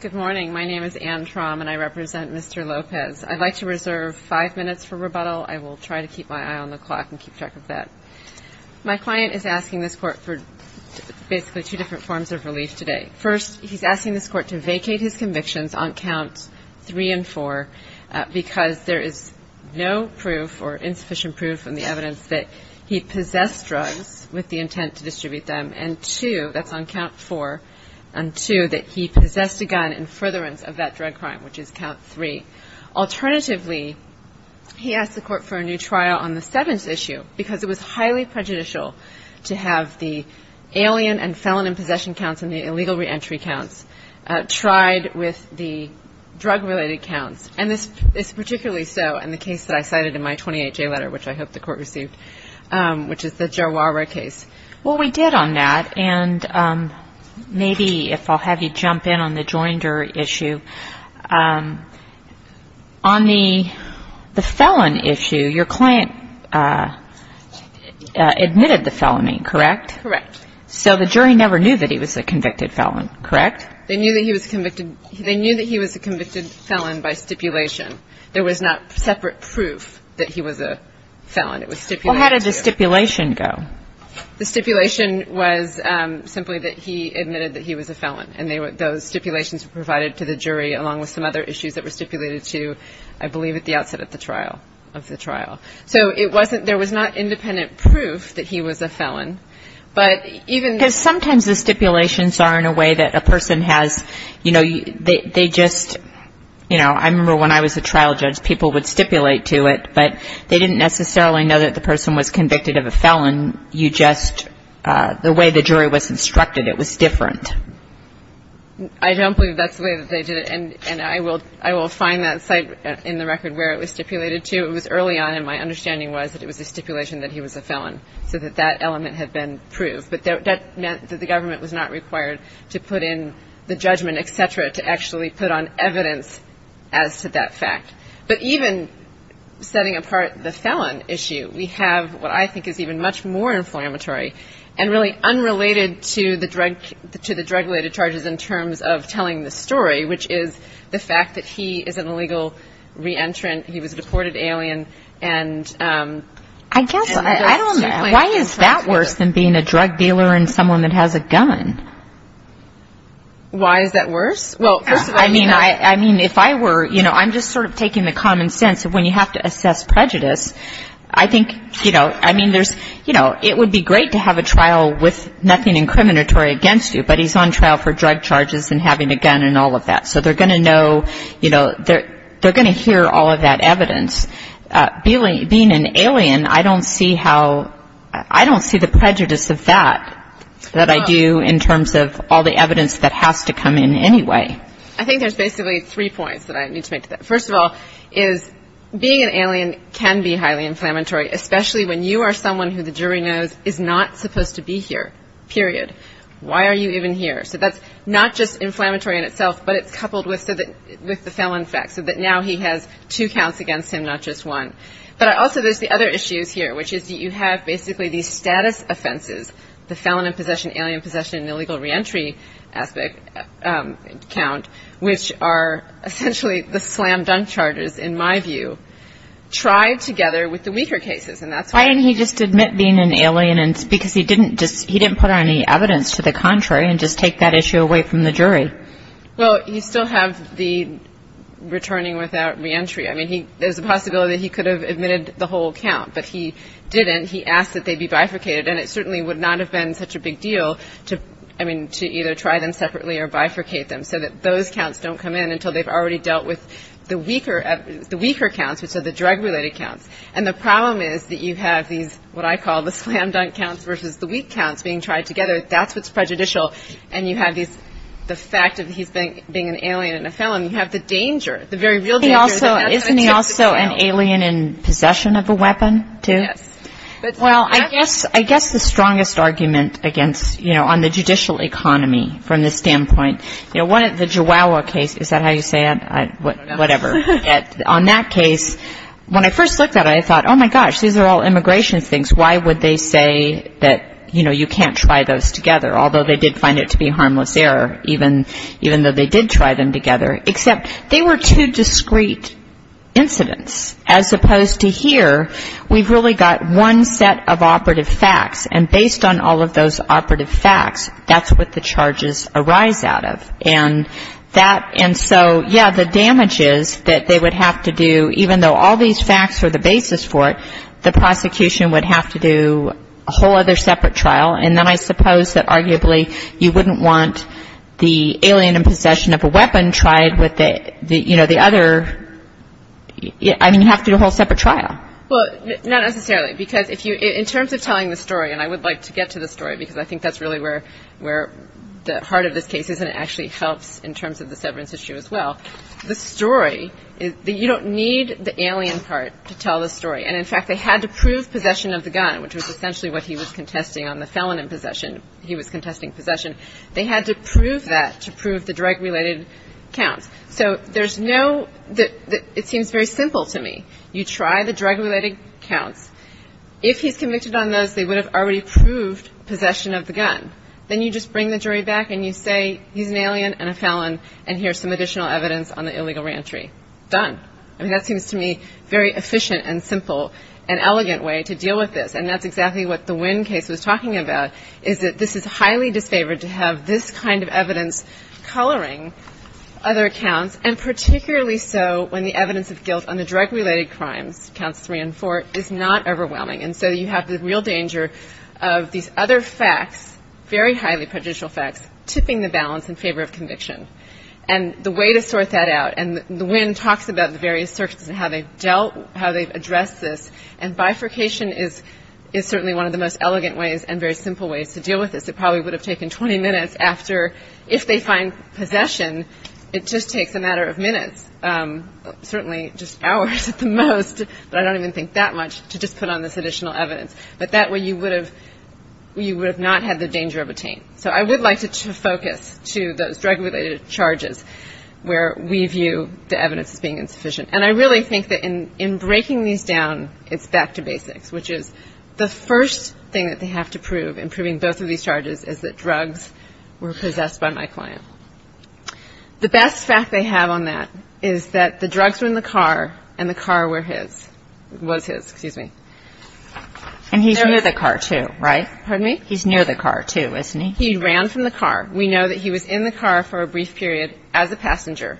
Good morning. My name is Anne Traum, and I represent Mr. Lopez. I'd like to reserve five minutes for rebuttal. I will try to keep my eye on the clock and keep track of that. My client is asking this court for basically two different forms of relief today. First, he's asking this court to vacate his convictions on Counts 3 and 4 because there is no proof or insufficient proof in the evidence that he possessed drugs with the intent to distribute them. And two, that's on Count 4, and two, that he possessed a gun in furtherance of that drug crime, which is Count 3. Alternatively, he asked the court for a new trial on the seventh issue because it was highly prejudicial to have the alien and felon in possession counts and the illegal reentry counts tried with the drug-related counts. And this is particularly so in the case that I cited in my 28-J letter, which I hope the court received, which is the Jarwara case. Well, we did on that, and maybe if I'll have you jump in on the Joinder issue. On the felon issue, your client admitted the felony, correct? Correct. So the jury never knew that he was a convicted felon, correct? They knew that he was a convicted felon by stipulation. There was not separate proof that he was a felon. It was stipulated. The stipulation was simply that he admitted that he was a felon, and those stipulations were provided to the jury along with some other issues that were stipulated to, I believe, at the outset of the trial. So there was not independent proof that he was a felon. Because sometimes the stipulations are in a way that a person has, you know, they just, you know, I remember when I was a trial judge, people would stipulate to it, but they didn't necessarily know that the person was convicted of a felon. You just, the way the jury was instructed, it was different. I don't believe that's the way that they did it, and I will find that site in the record where it was stipulated to. It was early on, and my understanding was that it was a stipulation that he was a felon, so that that element had been proved. But that meant that the government was not required to put in the judgment, et cetera, to actually put on evidence as to that fact. But even setting apart the felon issue, we have what I think is even much more inflammatory and really unrelated to the drug-related charges in terms of telling the story, which is the fact that he is an illegal re-entrant. He was a deported alien. I guess, I don't know, why is that worse than being a drug dealer and someone that has a gun? Why is that worse? Well, I mean, if I were, you know, I'm just sort of taking the common sense of when you have to assess prejudice, I think, you know, I mean, there's, you know, it would be great to have a trial with nothing incriminatory against you, but he's on trial for drug charges and having a gun and all of that. So they're going to know, you know, they're going to hear all of that evidence. Being an alien, I don't see how, I don't see the prejudice of that, that I do in terms of all the evidence that has to come in anyway. I think there's basically three points that I need to make to that. First of all is being an alien can be highly inflammatory, especially when you are someone who the jury knows is not supposed to be here, period. Why are you even here? So that's not just inflammatory in itself, but it's coupled with the felon fact, so that now he has two counts against him, not just one. But also there's the other issues here, which is you have basically these status offenses, the felon in possession, alien in possession, and illegal reentry aspect count, which are essentially the slam dunk charges, in my view, tried together with the weaker cases, and that's why. Why didn't he just admit being an alien? Because he didn't put on any evidence to the contrary and just take that issue away from the jury. Well, you still have the returning without reentry. I mean, there's a possibility that he could have admitted the whole count, but he didn't. And he asked that they be bifurcated, and it certainly would not have been such a big deal to, I mean, to either try them separately or bifurcate them so that those counts don't come in until they've already dealt with the weaker counts, which are the drug-related counts. And the problem is that you have these, what I call the slam dunk counts versus the weak counts being tried together. That's what's prejudicial. And you have the fact that he's being an alien and a felon. You have the danger, the very real danger. Isn't he also an alien in possession of a weapon, too? Yes. Well, I guess the strongest argument against, you know, on the judicial economy from this standpoint, you know, the Jawa case, is that how you say it? Whatever. On that case, when I first looked at it, I thought, oh, my gosh, these are all immigration things. Why would they say that, you know, you can't try those together? Although they did find it to be a harmless error, even though they did try them together. Except they were two discrete incidents. As opposed to here, we've really got one set of operative facts. And based on all of those operative facts, that's what the charges arise out of. And that, and so, yeah, the damages that they would have to do, even though all these facts were the basis for it, the prosecution would have to do a whole other separate trial. And then I suppose that arguably you wouldn't want the alien in possession of a weapon tried with the, you know, the other, I mean, you'd have to do a whole separate trial. Well, not necessarily. Because if you, in terms of telling the story, and I would like to get to the story, because I think that's really where the heart of this case is, and it actually helps in terms of the severance issue as well. The story, you don't need the alien part to tell the story. And in fact, they had to prove possession of the gun, which was essentially what he was contesting on the felon in possession. He was contesting possession. They had to prove that to prove the drug-related counts. So there's no, it seems very simple to me. You try the drug-related counts. If he's convicted on those, they would have already proved possession of the gun. Then you just bring the jury back and you say he's an alien and a felon, and here's some additional evidence on the illegal reentry. Done. I mean, that seems to me very efficient and simple and elegant way to deal with this. And that's exactly what the Wynn case was talking about, is that this is highly disfavored to have this kind of evidence coloring other counts, and particularly so when the evidence of guilt on the drug-related crimes, counts three and four, is not overwhelming. And so you have the real danger of these other facts, very highly prejudicial facts, tipping the balance in favor of conviction. And the way to sort that out, and the Wynn talks about the various circuits and how they've dealt, how they've addressed this, and bifurcation is certainly one of the most elegant ways and very simple ways to deal with this. It probably would have taken 20 minutes after, if they find possession, it just takes a matter of minutes, certainly just hours at the most, but I don't even think that much, to just put on this additional evidence. But that way you would have not had the danger of a taint. So I would like to focus to those drug-related charges where we view the evidence as being insufficient. And I really think that in breaking these down, it's back to basics, which is the first thing that they have to prove in proving both of these charges is that drugs were possessed by my client. The best fact they have on that is that the drugs were in the car and the car was his. And he's near the car, too, right? Pardon me? He's near the car, too, isn't he? He ran from the car. We know that he was in the car for a brief period as a passenger.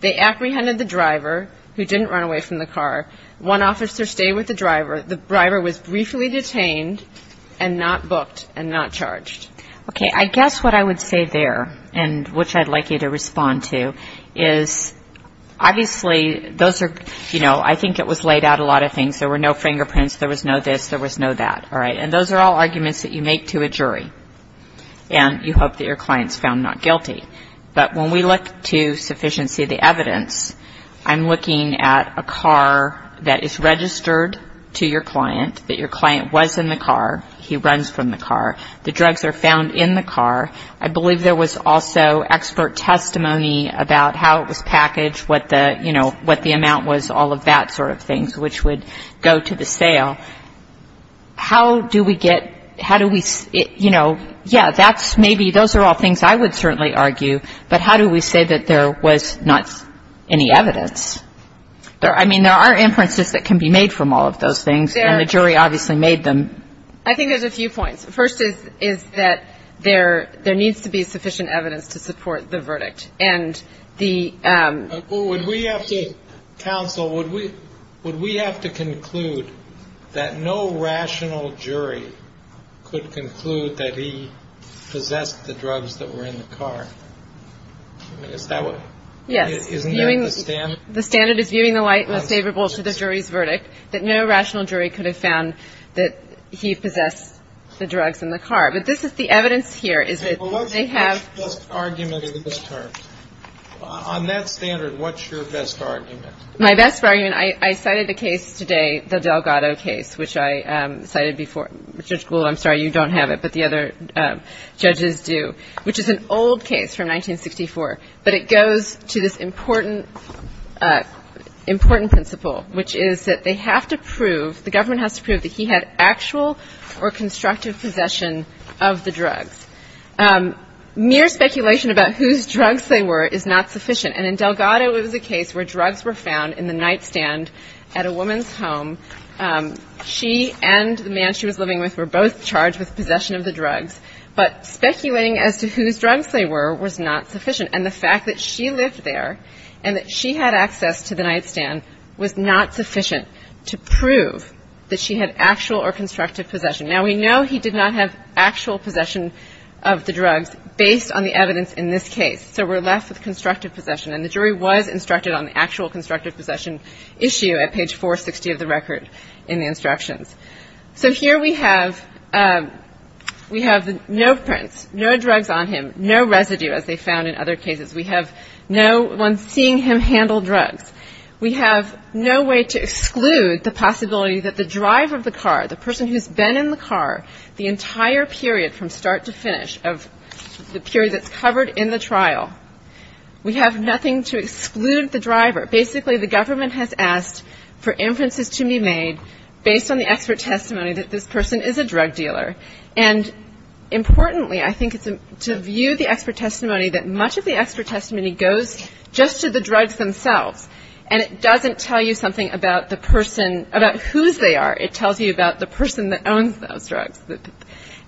They apprehended the driver, who didn't run away from the car. One officer stayed with the driver. The driver was briefly detained and not booked and not charged. Okay. I guess what I would say there, and which I'd like you to respond to, is obviously those are, you know, I think it was laid out a lot of things. There were no fingerprints. There was no this. There was no that. All right. And those are all arguments that you make to a jury, and you hope that your client's found not guilty. But when we look to sufficiency of the evidence, I'm looking at a car that is registered to your client, that your client was in the car. He runs from the car. The drugs are found in the car. I believe there was also expert testimony about how it was packaged, what the, you know, what the amount was, all of that sort of thing, which would go to the sale. How do we get, how do we, you know, yeah, that's maybe, those are all things I would certainly argue, but how do we say that there was not any evidence? I mean, there are inferences that can be made from all of those things, and the jury obviously made them. I think there's a few points. Would we have to, counsel, would we have to conclude that no rational jury could conclude that he possessed the drugs that were in the car? Is that what? Yes. Isn't that the standard? The standard is viewing the light most favorable to the jury's verdict, that no rational jury could have found that he possessed the drugs in the car. But this is the evidence here. Well, what's your best argument in this term? On that standard, what's your best argument? My best argument, I cited the case today, the Delgado case, which I cited before. Judge Gould, I'm sorry, you don't have it, but the other judges do, which is an old case from 1964. But it goes to this important principle, which is that they have to prove, the government has to prove that he had actual or constructive possession of the drugs. Mere speculation about whose drugs they were is not sufficient. And in Delgado, it was a case where drugs were found in the nightstand at a woman's home. She and the man she was living with were both charged with possession of the drugs, but speculating as to whose drugs they were was not sufficient. And the fact that she lived there and that she had access to the nightstand was not sufficient to prove that she had actual or constructive possession. Now, we know he did not have actual possession of the drugs based on the evidence in this case. So we're left with constructive possession. And the jury was instructed on the actual constructive possession issue at page 460 of the record in the instructions. So here we have no prints, no drugs on him, no residue, as they found in other cases. We have no one seeing him handle drugs. We have no way to exclude the possibility that the driver of the car, the person who's been in the car the entire period from start to finish of the period that's covered in the trial, we have nothing to exclude the driver. Basically, the government has asked for inferences to be made based on the expert testimony that this person is a drug dealer. And importantly, I think it's to view the expert testimony that much of the expert testimony goes just to the drugs themselves. And it doesn't tell you something about the person, about whose they are. It tells you about the person that owns those drugs.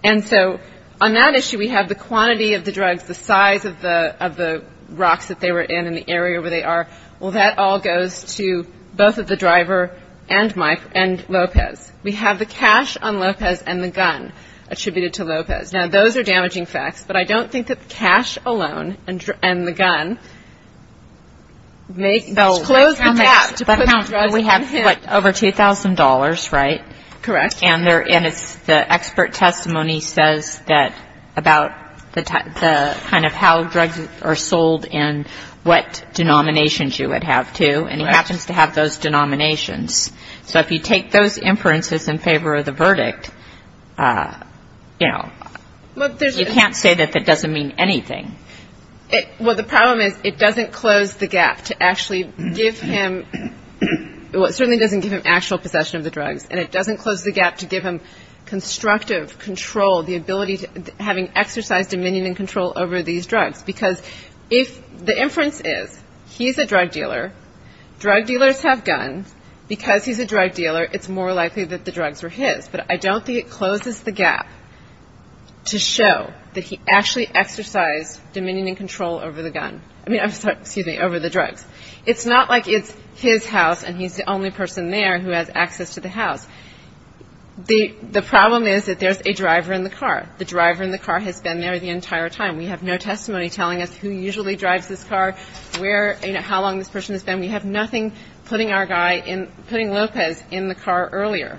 And so on that issue, we have the quantity of the drugs, the size of the rocks that they were in and the area where they are. Well, that all goes to both of the driver and Lopez. We have the cash on Lopez and the gun attributed to Lopez. Now, those are damaging facts, but I don't think that the cash alone and the gun make – They'll close the gap to put the drugs on him. But we have, what, over $2,000, right? Correct. And it's the expert testimony says that about the kind of how drugs are sold and what denominations you would have, too. And he happens to have those denominations. So if you take those inferences in favor of the verdict, you know, you can't say that that doesn't mean anything. Well, the problem is it doesn't close the gap to actually give him – well, it certainly doesn't give him actual possession of the drugs. And it doesn't close the gap to give him constructive control, the ability to having exercised dominion and control over these drugs. Because if the inference is he's a drug dealer, drug dealers have guns, because he's a drug dealer, it's more likely that the drugs were his. But I don't think it closes the gap to show that he actually exercised dominion and control over the gun – I mean, I'm sorry, excuse me, over the drugs. It's not like it's his house and he's the only person there who has access to the house. The problem is that there's a driver in the car. The driver in the car has been there the entire time. We have no testimony telling us who usually drives this car, where – you know, how long this person has been. We have nothing putting our guy in – putting Lopez in the car earlier.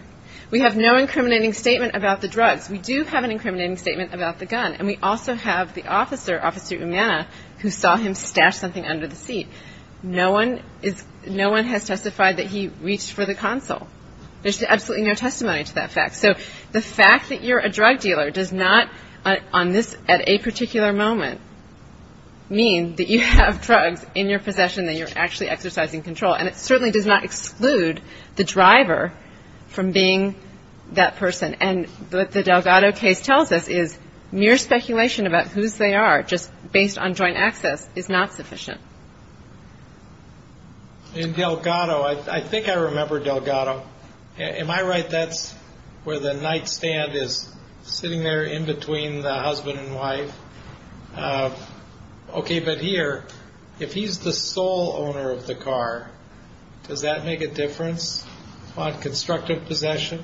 We have no incriminating statement about the drugs. We do have an incriminating statement about the gun. And we also have the officer, Officer Umana, who saw him stash something under the seat. No one is – no one has testified that he reached for the console. There's absolutely no testimony to that fact. So the fact that you're a drug dealer does not, on this – at a particular moment, mean that you have drugs in your possession that you're actually exercising control. And it certainly does not exclude the driver from being that person. And what the Delgado case tells us is mere speculation about whose they are, just based on joint access, is not sufficient. In Delgado – I think I remember Delgado. Am I right that's where the nightstand is, sitting there in between the husband and wife? Okay, but here, if he's the sole owner of the car, does that make a difference on constructive possession?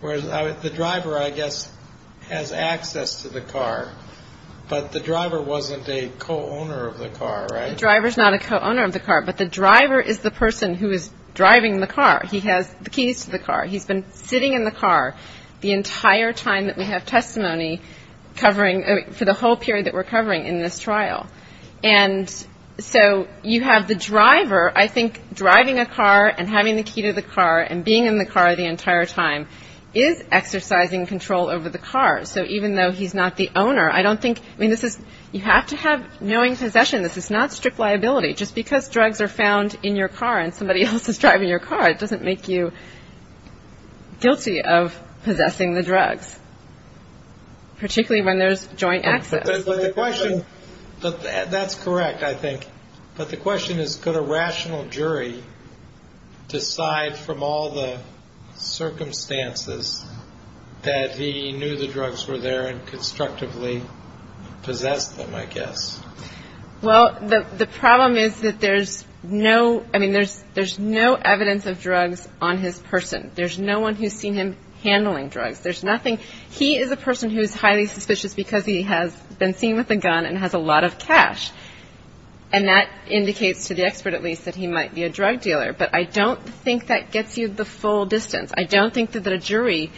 Whereas the driver, I guess, has access to the car, but the driver wasn't a co-owner of the car, right? The driver's not a co-owner of the car, but the driver is the person who is driving the car. He has the keys to the car. He's been sitting in the car the entire time that we have testimony covering – for the whole period that we're covering in this trial. And so you have the driver, I think, driving a car and having the key to the car and being in the car the entire time is exercising control over the car. So even though he's not the owner, I don't think – I mean, this is – you have to have knowing possession. This is not strict liability. Just because drugs are found in your car and somebody else is driving your car, it doesn't make you guilty of possessing the drugs, particularly when there's joint access. But the question – that's correct, I think. But the question is, could a rational jury decide from all the circumstances that he knew the drugs were there and constructively possessed them, I guess? Well, the problem is that there's no – I mean, there's no evidence of drugs on his person. There's no one who's seen him handling drugs. There's nothing – he is a person who is highly suspicious because he has been seen with a gun and has a lot of cash. And that indicates, to the expert at least, that he might be a drug dealer. But I don't think that gets you the full distance. I don't think that a jury,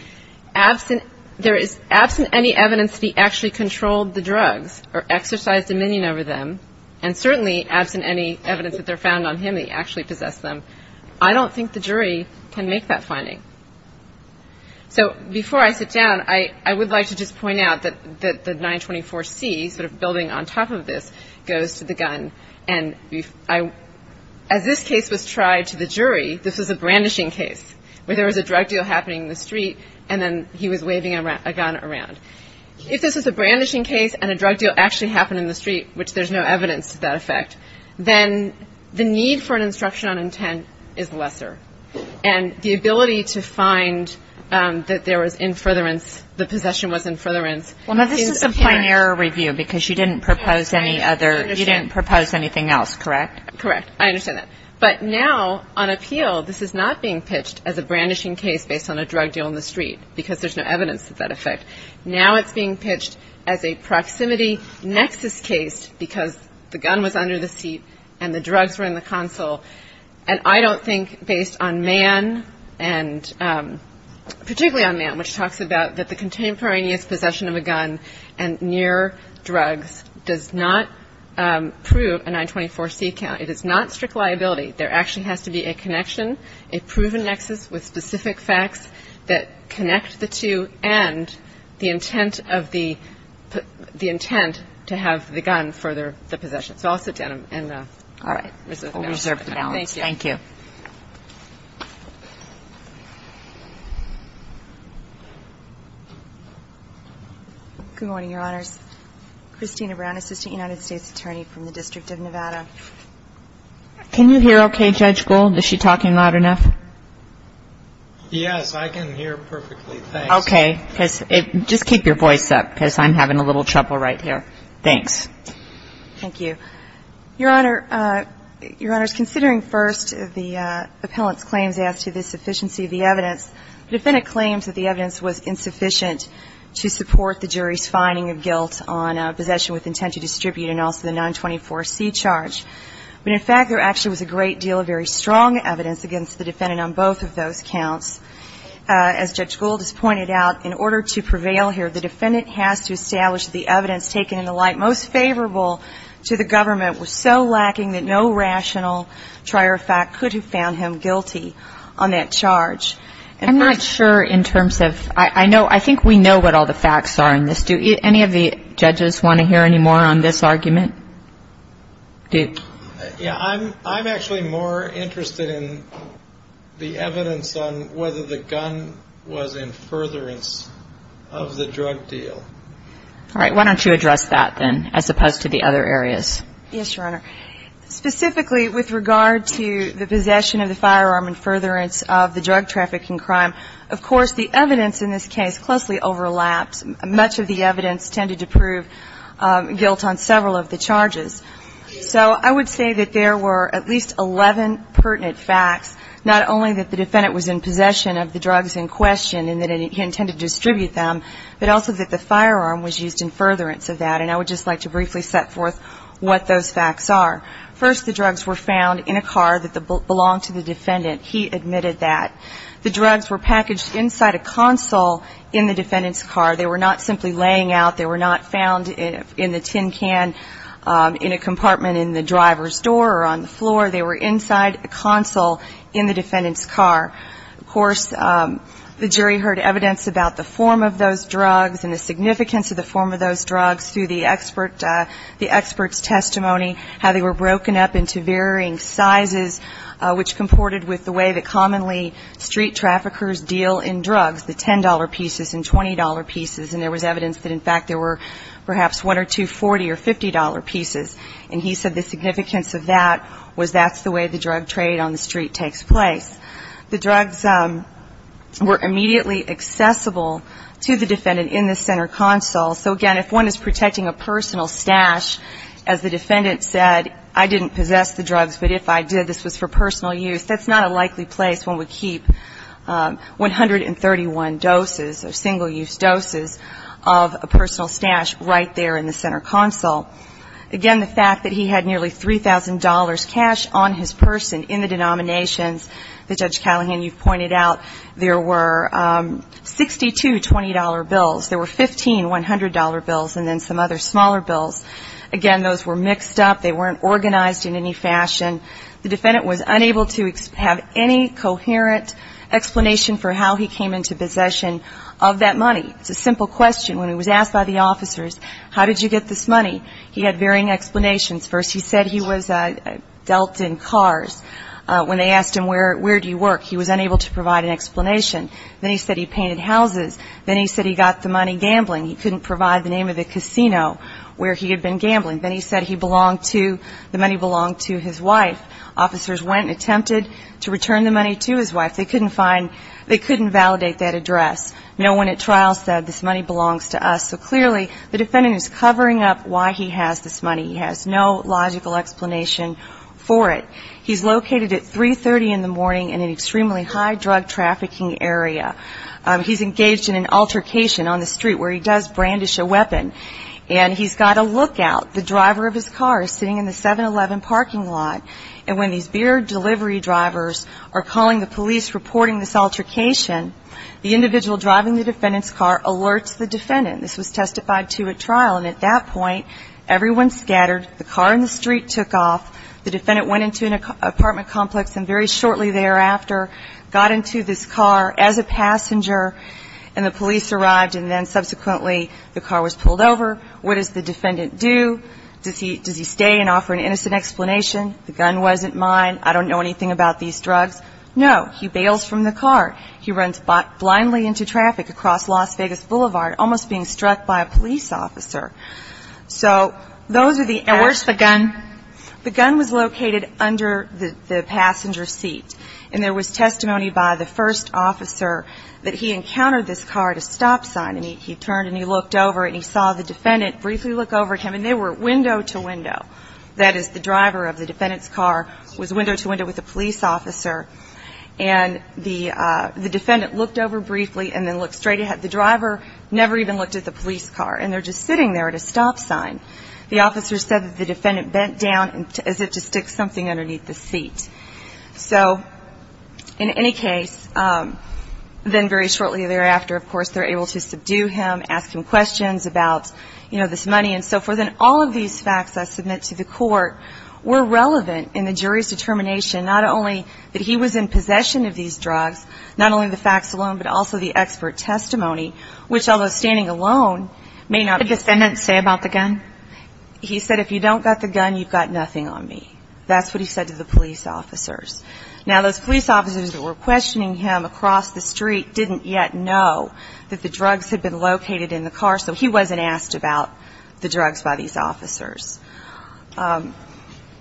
absent – there is absent any evidence that he actually controlled the drugs or exercised dominion over them, and certainly absent any evidence that they're found on him, that he actually possessed them, I don't think the jury can make that finding. So before I sit down, I would like to just point out that the 924C, sort of building on top of this, goes to the gun. And as this case was tried to the jury, this was a brandishing case, where there was a drug deal happening in the street, and then he was waving a gun around. If this was a brandishing case and a drug deal actually happened in the street, which there's no evidence to that effect, then the need for an instruction on intent is lesser. And the ability to find that there was in furtherance, the possession was in furtherance. Well, now, this is a plain error review because you didn't propose any other – you didn't propose anything else, correct? Correct. I understand that. But now, on appeal, this is not being pitched as a brandishing case based on a drug deal in the street because there's no evidence of that effect. Now it's being pitched as a proximity nexus case because the gun was under the seat and the drugs were in the console. And I don't think, based on Mann, and particularly on Mann, which talks about that the contemporaneous possession of a gun and near drugs does not prove a 924C count. It is not strict liability. There actually has to be a connection, a proven nexus with specific facts that connect the two and the intent of the – the intent to have the gun for the possession. So I'll sit down and reserve the balance. All right. We'll reserve the balance. Thank you. Thank you. Good morning, Your Honors. Christina Brown, Assistant United States Attorney from the District of Nevada. Can you hear okay, Judge Gould? Is she talking loud enough? Yes, I can hear perfectly. Thanks. Okay. Just keep your voice up because I'm having a little trouble right here. Thanks. Thank you. Your Honors, considering first the appellant's claims as to the sufficiency of the evidence, the defendant claims that the evidence was insufficient to support the jury's finding of guilt on possession with intent to distribute and also the 924C charge. But in fact, there actually was a great deal of very strong evidence against the defendant on both of those counts. As Judge Gould has pointed out, in order to prevail here, the defendant has to establish the evidence taken in the light most favorable to the government was so lacking that no rational trier of fact could have found him guilty on that charge. I'm not sure in terms of ‑‑ I think we know what all the facts are in this. Do any of the judges want to hear any more on this argument? I'm actually more interested in the evidence on whether the gun was in furtherance of the drug deal. All right. Why don't you address that then as opposed to the other areas? Yes, Your Honor. Specifically with regard to the possession of the firearm in furtherance of the drug trafficking crime, of course the evidence in this case closely overlaps. Much of the evidence tended to prove guilt on several of the charges. So I would say that there were at least 11 pertinent facts, not only that the defendant was in possession of the drugs in question and that he intended to distribute them, but also that the firearm was used in furtherance of that. And I would just like to briefly set forth what those facts are. First, the drugs were found in a car that belonged to the defendant. He admitted that. The drugs were packaged inside a console in the defendant's car. They were not simply laying out. They were not found in the tin can in a compartment in the driver's door or on the floor. They were inside a console in the defendant's car. Of course, the jury heard evidence about the form of those drugs and the significance of the form of those drugs through the expert's testimony, how they were broken up into varying sizes, which comported with the way that commonly street traffickers deal in drugs, the $10 pieces and $20 pieces. And there was evidence that, in fact, there were perhaps one or two $40 or $50 pieces. And he said the significance of that was that's the way the drug trade on the street takes place. The drugs were immediately accessible to the defendant in the center console. So, again, if one is protecting a personal stash, as the defendant said, I didn't possess the drugs, but if I did, this was for personal use, that's not a likely place one would keep 131 doses or single-use doses of a personal stash right there in the center console. Again, the fact that he had nearly $3,000 cash on his person in the denominations that, Judge Callahan, you've pointed out, there were 62 $20 bills. There were 15 $100 bills and then some other smaller bills. Again, those were mixed up. They weren't organized in any fashion. The defendant was unable to have any coherent explanation for how he came into possession of that money. It's a simple question. When he was asked by the officers, how did you get this money, he had varying explanations. First, he said he was dealt in cars. When they asked him, where do you work, he was unable to provide an explanation. Then he said he painted houses. Then he said he got the money gambling. He couldn't provide the name of the casino where he had been gambling. Then he said he belonged to, the money belonged to his wife. Officers went and attempted to return the money to his wife. They couldn't find, they couldn't validate that address. No one at trial said this money belongs to us. So, clearly, the defendant is covering up why he has this money. He has no logical explanation for it. He's located at 3.30 in the morning in an extremely high drug trafficking area. He's engaged in an altercation on the street where he does brandish a weapon. And he's got a lookout. The driver of his car is sitting in the 7-Eleven parking lot. And when these beer delivery drivers are calling the police reporting this altercation, the individual driving the defendant's car alerts the defendant. This was testified to at trial. And at that point, everyone scattered. The car in the street took off. The defendant went into an apartment complex. And very shortly thereafter, got into this car as a passenger. And the police arrived. And then, subsequently, the car was pulled over. What does the defendant do? Does he stay and offer an innocent explanation? The gun wasn't mine. I don't know anything about these drugs. No. He bails from the car. He runs blindly into traffic across Las Vegas Boulevard, almost being struck by a police officer. So those are the errors. And where's the gun? The gun was located under the passenger seat. And there was testimony by the first officer that he encountered this car at a stop sign. And he turned and he looked over and he saw the defendant briefly look over at him. And they were window to window. That is, the driver of the defendant's car was window to window with the police officer. And the defendant looked over briefly and then looked straight ahead. The driver never even looked at the police car. And they're just sitting there at a stop sign. The officer said that the defendant bent down as if to stick something underneath the seat. So, in any case, then very shortly thereafter, of course, they're able to subdue him, ask him questions about, you know, this money and so forth. And all of these facts I submit to the court were relevant in the jury's determination, not only that he was in possession of these drugs, not only the facts alone, but also the expert testimony, which, although standing alone, may not be. What did the defendant say about the gun? He said, if you don't got the gun, you've got nothing on me. That's what he said to the police officers. Now, those police officers that were questioning him across the street didn't yet know that the drugs had been located in the car, so he wasn't asked about the drugs by these officers.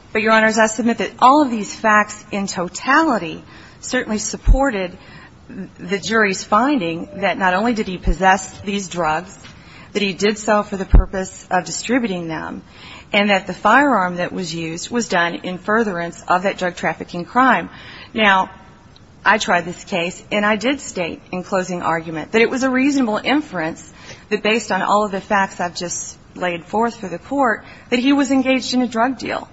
But, Your Honors, I submit that all of these facts in totality certainly supported the jury's finding that not only did he possess these drugs, that he did so for the purpose of distributing them, and that the firearm that was used was done in furtherance of that drug trafficking crime. Now, I tried this case, and I did state in closing argument that it was a reasonable inference that, based on all of the facts I've just laid forth for the court, that he was engaged in a drug deal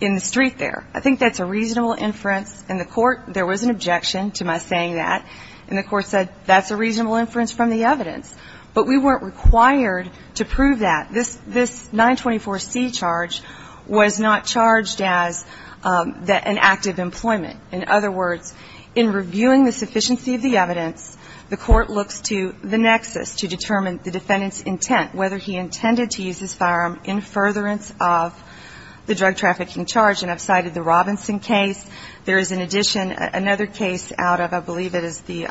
in the street there. I think that's a reasonable inference in the court. There was an objection to my saying that, and the court said, that's a reasonable inference from the evidence, but we weren't required to prove that. This 924C charge was not charged as an act of employment. In other words, in reviewing the sufficiency of the evidence, the court looks to the nexus to determine the defendant's intent, whether he intended to use his firearm in furtherance of the drug trafficking charge. And I've cited the Robinson case. There is an addition, another case out of, I believe it is the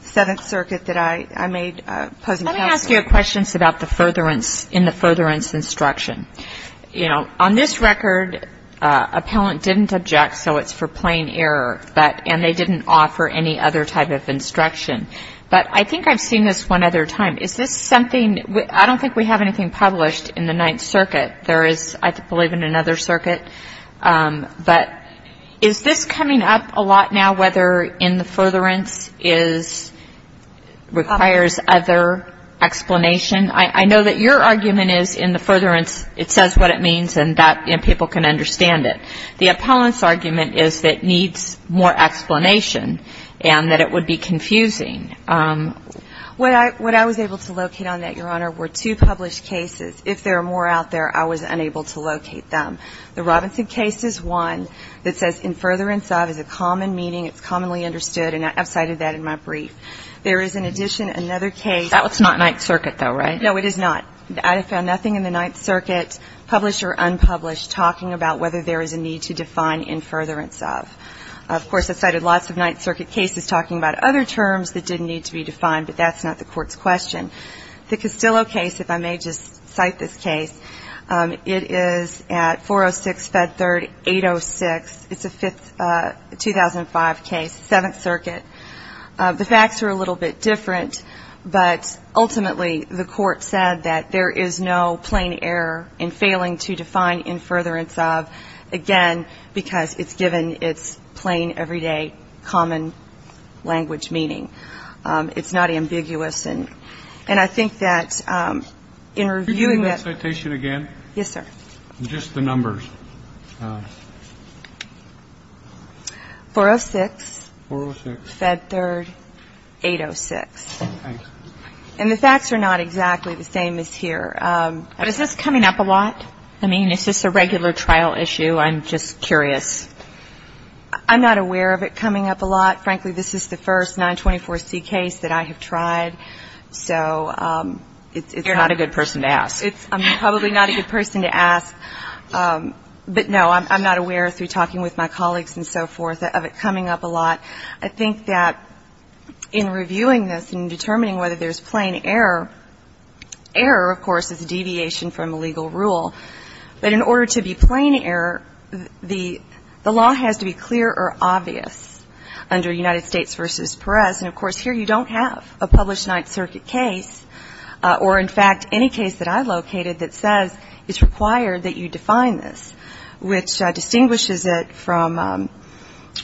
Seventh Circuit, that I made pose in counseling. Let me ask you a question about the furtherance in the furtherance instruction. You know, on this record, appellant didn't object, so it's for plain error, and they didn't offer any other type of instruction. But I think I've seen this one other time. Is this something, I don't think we have anything published in the Ninth Circuit. There is, I believe, in another circuit. But is this coming up a lot now, whether in the furtherance is, requires other explanation? I know that your argument is in the furtherance it says what it means and that people can understand it. The appellant's argument is that it needs more explanation and that it would be confusing. What I was able to locate on that, Your Honor, were two published cases. If there are more out there, I was unable to locate them. The Robinson case is one that says in furtherance of is a common meaning. It's commonly understood, and I've cited that in my brief. There is, in addition, another case. That's not Ninth Circuit, though, right? No, it is not. I found nothing in the Ninth Circuit, published or unpublished, talking about whether there is a need to define in furtherance of. Of course, I've cited lots of Ninth Circuit cases talking about other terms that didn't need to be defined, but that's not the Court's question. The Castillo case, if I may just cite this case, it is at 406 Fed Third 806. It's a 2005 case, Seventh Circuit. The facts are a little bit different, but ultimately the Court said that there is no plain error in failing to define in furtherance of, again, because it's given its plain, everyday, common language meaning. It's not ambiguous. And I think that in reviewing that ---- Could you give me that citation again? Yes, sir. Just the numbers. 406. 406. Fed Third 806. Thanks. And the facts are not exactly the same as here. Is this coming up a lot? I mean, is this a regular trial issue? I'm just curious. I'm not aware of it coming up a lot. Frankly, this is the first 924C case that I have tried, so it's not a good person to ask. It's probably not a good person to ask. But, no, I'm not aware through talking with my colleagues and so forth of it coming up a lot. I think that in reviewing this and determining whether there's plain error, error, of course, is a deviation from a legal rule. But in order to be plain error, the law has to be clear or obvious under United States v. Perez. And, of course, here you don't have a published Ninth Circuit case or, in fact, any case that I located that says it's required that you define this, which distinguishes it from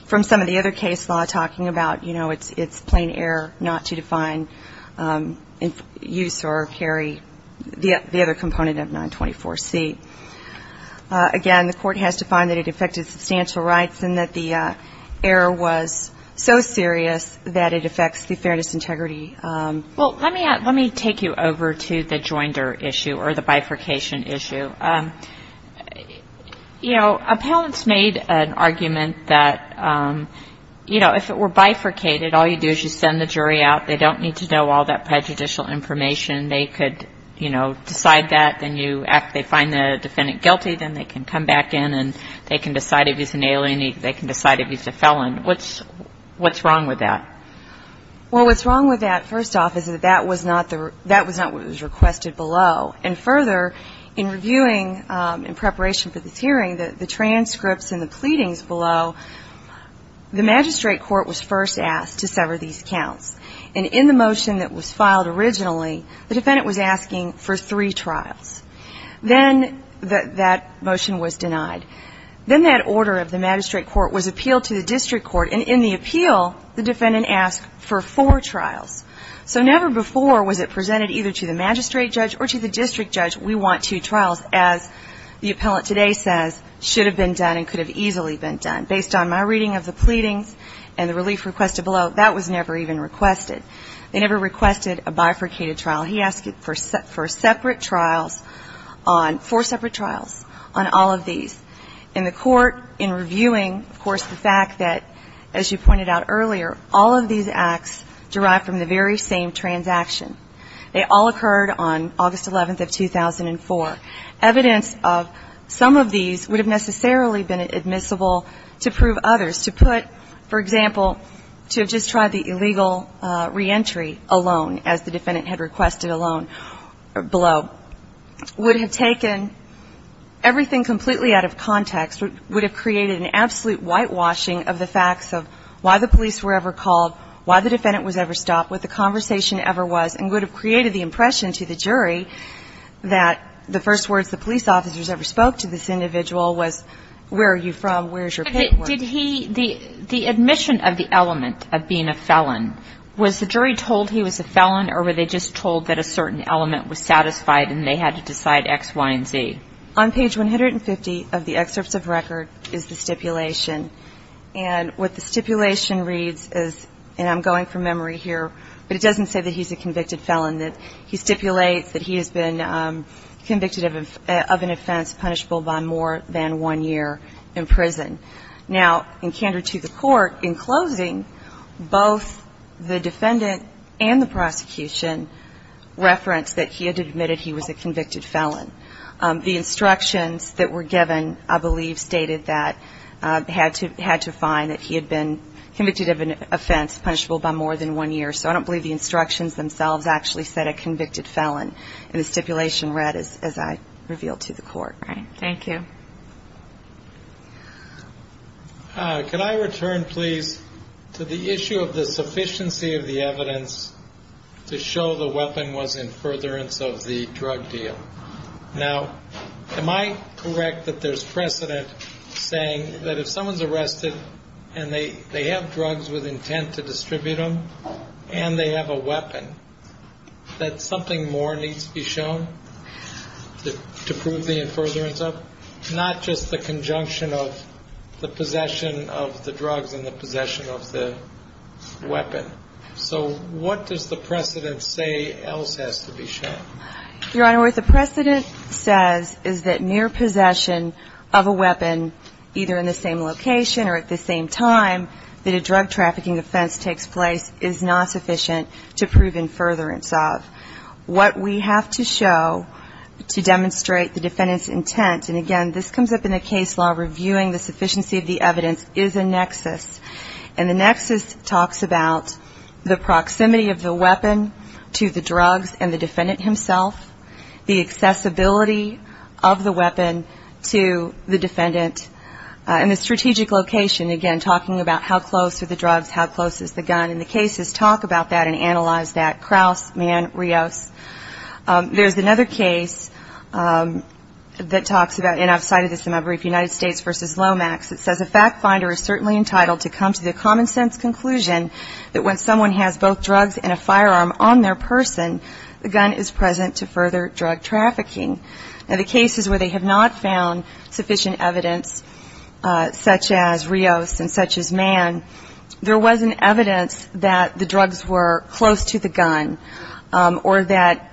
some of the other case law talking about, you know, it's plain error not to define use or carry the other component of 924C. Again, the court has to find that it affected substantial rights and that the error was so serious that it affects the fairness and integrity. Well, let me take you over to the joinder issue or the bifurcation issue. You know, appellants made an argument that, you know, if it were bifurcated, all you do is you send the jury out. They don't need to know all that prejudicial information. They could, you know, decide that. Then after they find the defendant guilty, then they can come back in and they can decide if he's an alien, they can decide if he's a felon. What's wrong with that? Well, what's wrong with that, first off, is that that was not what was requested below. And further, in reviewing in preparation for this hearing, the transcripts and the pleadings below, the magistrate court was first asked to sever these counts. And in the motion that was filed originally, the defendant was asking for three trials. Then that motion was denied. Then that order of the magistrate court was appealed to the district court. And in the appeal, the defendant asked for four trials. So never before was it presented either to the magistrate judge or to the district judge, we want two trials, as the appellant today says, should have been done and could have easily been done. Based on my reading of the pleadings and the relief requested below, that was never even requested. They never requested a bifurcated trial. He asked for separate trials on four separate trials on all of these. In the court, in reviewing, of course, the fact that, as you pointed out earlier, all of these acts derive from the very same transaction. They all occurred on August 11th of 2004. Evidence of some of these would have necessarily been admissible to prove others. To put, for example, to just try the illegal reentry alone, as the defendant had requested alone below, would have taken everything completely out of context, would have created an absolute whitewashing of the facts of why the police were ever called, why the defendant was ever stopped, what the conversation ever was, and would have created the impression to the jury that the first words the police officers ever spoke to this individual was, where are you from, where's your paperwork? Did he – the admission of the element of being a felon, was the jury told he was a felon, or were they just told that a certain element was satisfied and they had to decide X, Y, and Z? On page 150 of the excerpts of record is the stipulation. And what the stipulation reads is, and I'm going from memory here, but it doesn't say that he's a convicted felon, that he stipulates that he has been convicted of an offense punishable by more than one year in prison. Now, in candor to the court, in closing, both the defendant and the prosecution referenced that he had admitted he was a convicted felon. The instructions that were given, I believe, stated that he had to find that he had been convicted of an offense punishable by more than one year. So I don't believe the instructions themselves actually said a convicted felon. And the stipulation read, as I revealed to the court. All right. Thank you. Can I return, please, to the issue of the sufficiency of the evidence to show the weapon was in furtherance of the drug deal? Now, am I correct that there's precedent saying that if someone's arrested and they have drugs with intent to distribute them and they have a weapon, that something more needs to be shown to prove the in furtherance of? Not just the conjunction of the possession of the drugs and the possession of the weapon. So what does the precedent say else has to be shown? Your Honor, what the precedent says is that mere possession of a weapon, either in the same location or at the same time that a drug trafficking offense takes place, is not sufficient to prove in furtherance of. What we have to show to demonstrate the defendant's intent, and again this comes up in the case law reviewing the sufficiency of the evidence, is a nexus. And the nexus talks about the proximity of the weapon to the drugs and the defendant himself, the accessibility of the weapon to the defendant, and the strategic location, again talking about how close are the drugs, how close is the gun. And the cases talk about that and analyze that, Kraus, Mann, Rios. There's another case that talks about, and I've cited this in my brief, United States v. Lomax. It says a fact finder is certainly entitled to come to the common sense conclusion that when someone has both drugs and a firearm on their person, the gun is present to further drug trafficking. Now, the cases where they have not found sufficient evidence, such as Rios and such as Mann, there wasn't evidence that the drugs were close to the gun or that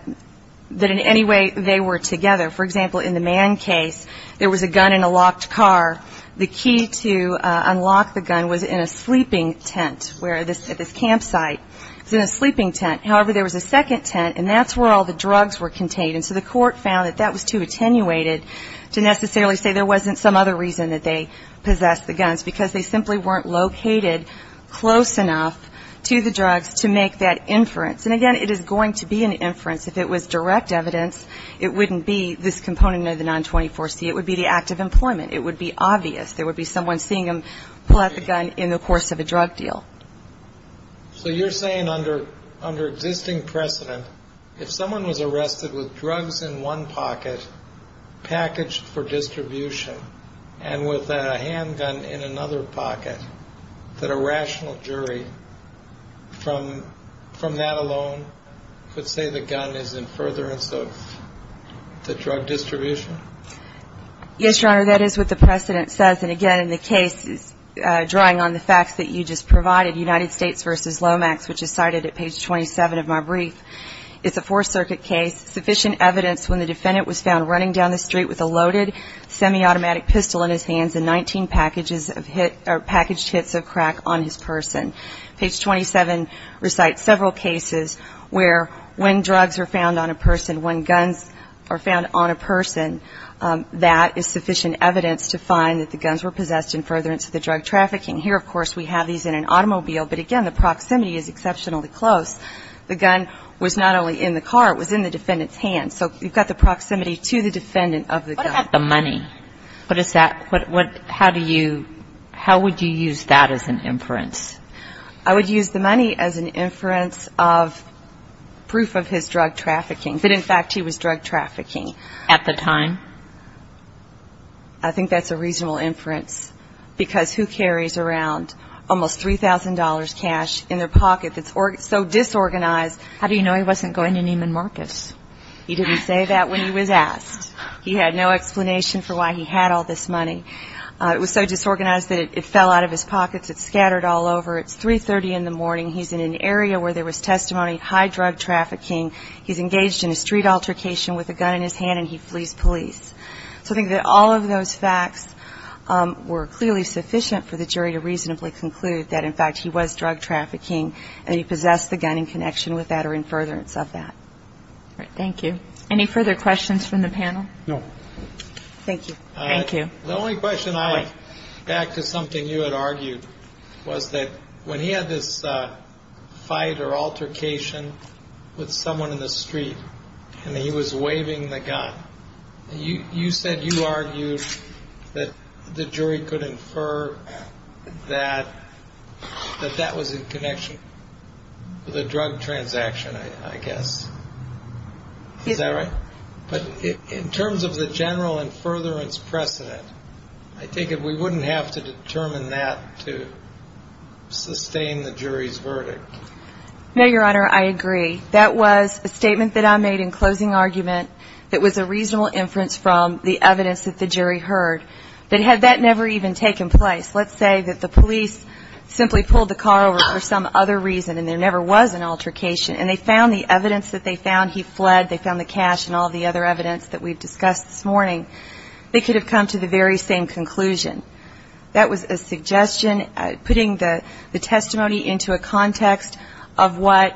in any way they were together. For example, in the Mann case, there was a gun in a locked car. The key to unlock the gun was in a sleeping tent at this campsite. It was in a sleeping tent. However, there was a second tent, and that's where all the drugs were contained. And so the court found that that was too attenuated to necessarily say there wasn't some other reason that they possessed the guns, because they simply weren't located close enough to the drugs to make that inference. And, again, it is going to be an inference. If it was direct evidence, it wouldn't be this component of the 924C. It would be the act of employment. It would be obvious. There would be someone seeing them pull out the gun in the course of a drug deal. So you're saying under existing precedent, if someone was arrested with drugs in one pocket, packaged for distribution, and with a handgun in another pocket, that a rational jury, from that alone, is going to be able to determine whether or not the person is guilty. Yes, Your Honor, that is what the precedent says. And, again, the case is drawing on the facts that you just provided, United States v. Lomax, which is cited at page 27 of my brief. It's a Fourth Circuit case, sufficient evidence when the defendant was found running down the street with a loaded semiautomatic to find that the guns were possessed in furtherance of the drug trafficking. Here, of course, we have these in an automobile. But, again, the proximity is exceptionally close. The gun was not only in the car, it was in the defendant's hand. So you've got the proximity to the defendant of the gun. You have the money. How would you use that as an inference? I would use the money as an inference of proof of his drug trafficking, that, in fact, he was drug trafficking. At the time? I think that's a reasonable inference, because who carries around almost $3,000 cash in their pocket that's so disorganized? How do you know he wasn't going to Neiman Marcus? He didn't say that when he was asked. He had no explanation for why he had all this money. It was so disorganized that it fell out of his pockets. It's scattered all over. It's 330 in the morning. He's in an area where there was testimony of high drug trafficking. He's engaged in a street altercation with a gun in his hand, and he flees police. So I think that all of those facts were clearly sufficient for the jury to reasonably conclude that, in fact, he was drug trafficking and he possessed the gun in connection with that or in furtherance of that. Thank you. Any further questions from the panel? No. Thank you. The only question I have, back to something you had argued, was that when he had this fight or altercation with someone in the street and he was waving the gun, you said you argued that the jury could infer that that that was in connection with a drug transaction, I guess. Is that right? But in terms of the general and furtherance precedent, I take it we wouldn't have to determine that to sustain the jury's verdict. No, Your Honor, I agree. That was a statement that I made in closing argument that was a reasonable inference from the evidence that the jury heard. But had that never even taken place, let's say that the police simply pulled the car over for some other reason and there never was an altercation and they found the evidence that they found, he fled, they found the cash and all the other evidence that we've discussed this morning, they could have come to the very same conclusion. That was a suggestion, putting the testimony into a context of what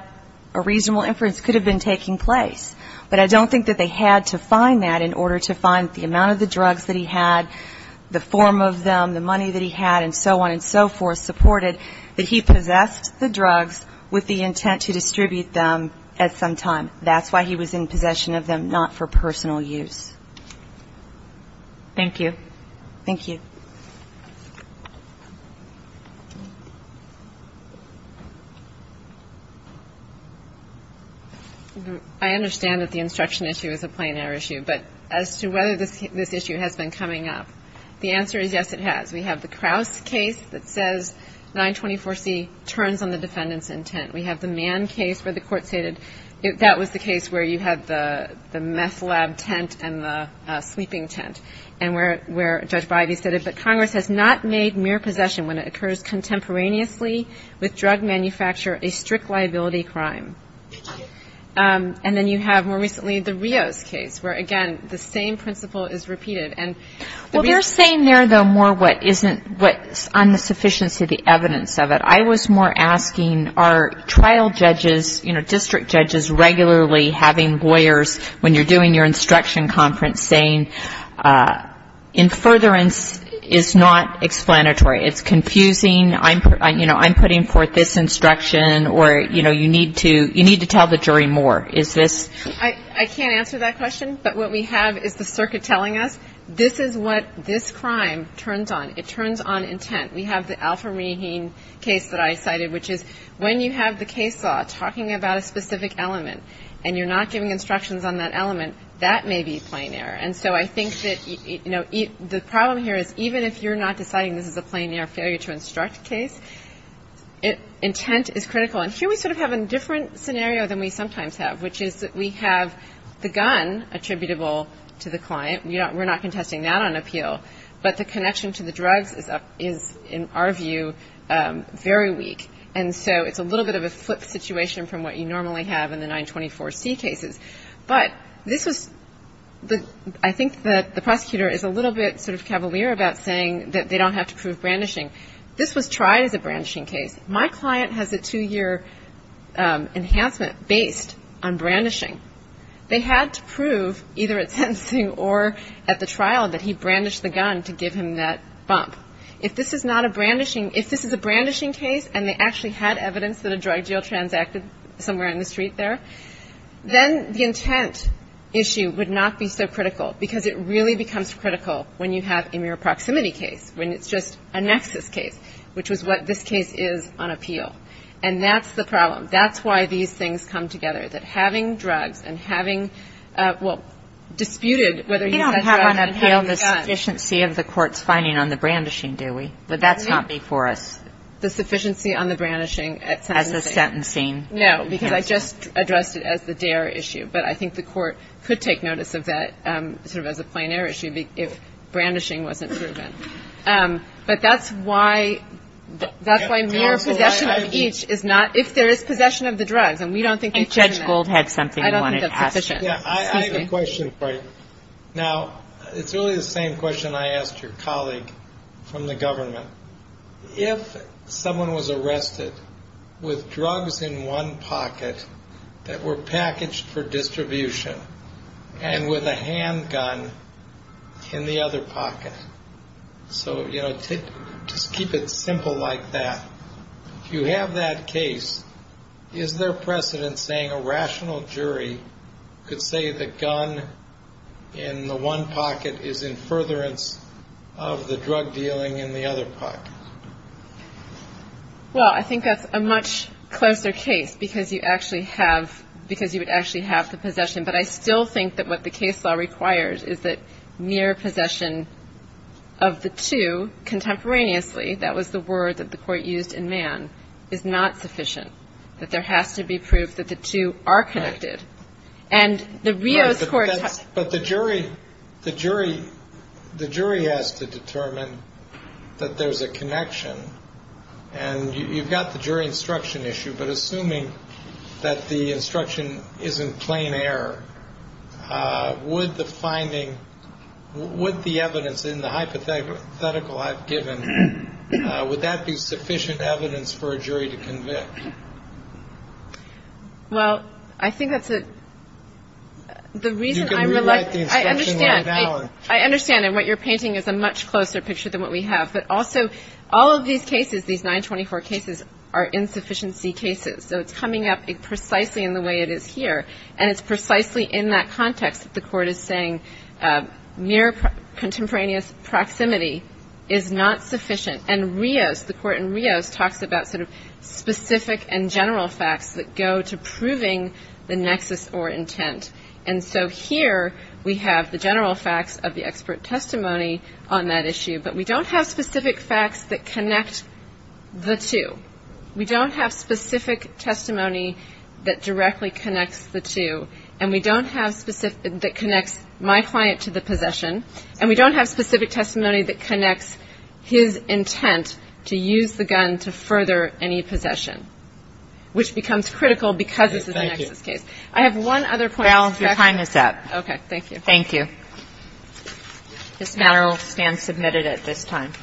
a reasonable inference could have been taking place. But I don't think that they had to find that in order to find the amount of the drugs that he had, the form of them, the money that he had and so on and so forth supported that he possessed the drugs with the intent to distribute them at some time. That's why he was in possession of them, not for personal use. Thank you. I understand that the instruction issue is a plain air issue. But as to whether this issue has been coming up, the answer is yes, it has. We have the Crouse case that says 924C turns on the defendant's intent. We have the Mann case where the court stated that was the case where you had the meth lab tent and the sleeping tent and where Judge Bidey said it, but Congress has not made mere possession when it occurs contemporaneously with drug manufacture a strict liability crime. And then you have more recently the Rios case where, again, the same principle is repeated. Well, they're saying there, though, more what isn't on the sufficiency of the evidence of it. I was more asking, are trial judges, you know, district judges regularly having lawyers when you're doing your instruction conference saying in furtherance is not explanatory, it's confusing, you know, I'm putting forth this instruction or, you know, you need to tell the jury more. Is this? I can't answer that question, but what we have is the circuit telling us this is what this crime turns on. It turns on intent. We have the Alfa-Rahim case that I cited, which is when you have the case law talking about a specific element and you're not giving instructions on that element, that may be plein air. And so I think that, you know, the problem here is even if you're not deciding this is a plein air failure to instruct case, intent is critical. And here we sort of have a different scenario than we sometimes have, which is that we have the gun attributable to the client. We're not contesting that on appeal, but the connection to the drugs is, in our view, very weak. And so it's a little bit of a flip situation from what you normally have in the 924C cases. But this was the — I think that the prosecutor is a little bit sort of cavalier about saying that they don't have to prove brandishing. This was tried as a brandishing case. My client has a two-year enhancement based on brandishing. They had to prove, either at sentencing or at the trial, that he brandished the gun to give him that bump. If this is not a brandishing — if this is a brandishing case and they actually had evidence that a drug deal transacted somewhere in the street there, then the intent issue would not be so critical, because it really becomes critical when you have a mere proximity case, when it's just a nexus case, which was what this case is on appeal. And that's the problem. That's why these things come together, that having drugs and having — well, disputed whether he's had drugs and had a gun. You don't have on appeal the sufficiency of the court's finding on the brandishing, do we? But that's not before us. No, because I just addressed it as the dare issue, but I think the court could take notice of that sort of as a plein air issue if brandishing wasn't proven. But that's why mere possession of each is not — if there is possession of the drugs, and we don't think they question that, I don't think that's sufficient. I have a question for you. Now, it's really the same question I asked your colleague from the government. If someone was arrested with drugs in one pocket that were packaged for distribution and with a handgun in the other pocket — so, you know, just keep it simple like that — if you have that case, is there precedent saying a rational jury could say that gun in the one pocket is in furtherance of the drug dealing in the other pocket? Well, I think that's a much closer case because you actually have — because you would actually have the possession. But I still think that what the case law requires is that mere possession of the two contemporaneously — that was the word that the court used in Mann — is not sufficient, that there has to be proof that the two are connected. But the jury has to determine that there's a connection, and you've got the jury instruction issue, but assuming that the instruction isn't plein air, would the finding — would the evidence in the hypothetical I've given, would that be sufficient evidence for a jury to convict? Well, I think that's a — the reason I — You can rewrite the instruction right now. I understand, and what you're painting is a much closer picture than what we have. But also, all of these cases, these 924 cases, are insufficiency cases, so it's coming up precisely in the way it is here, and it's precisely in that context that the court is saying mere contemporaneous proximity is not sufficient. And Rios, the court in Rios, talks about sort of specific and general facts that go to proving the nexus or intent. And so here we have the general facts of the expert testimony on that issue, but we don't have specific facts that connect the two. We don't have specific testimony that directly connects the two, and we don't have specific — that connects my client to the possession, and we don't have specific testimony that connects his intent to use the gun to further any possession, which becomes critical because this is a nexus case. Thank you. I have one other point. Val, your time is up. Okay. Thank you. Thank you. This matter will stand submitted at this time.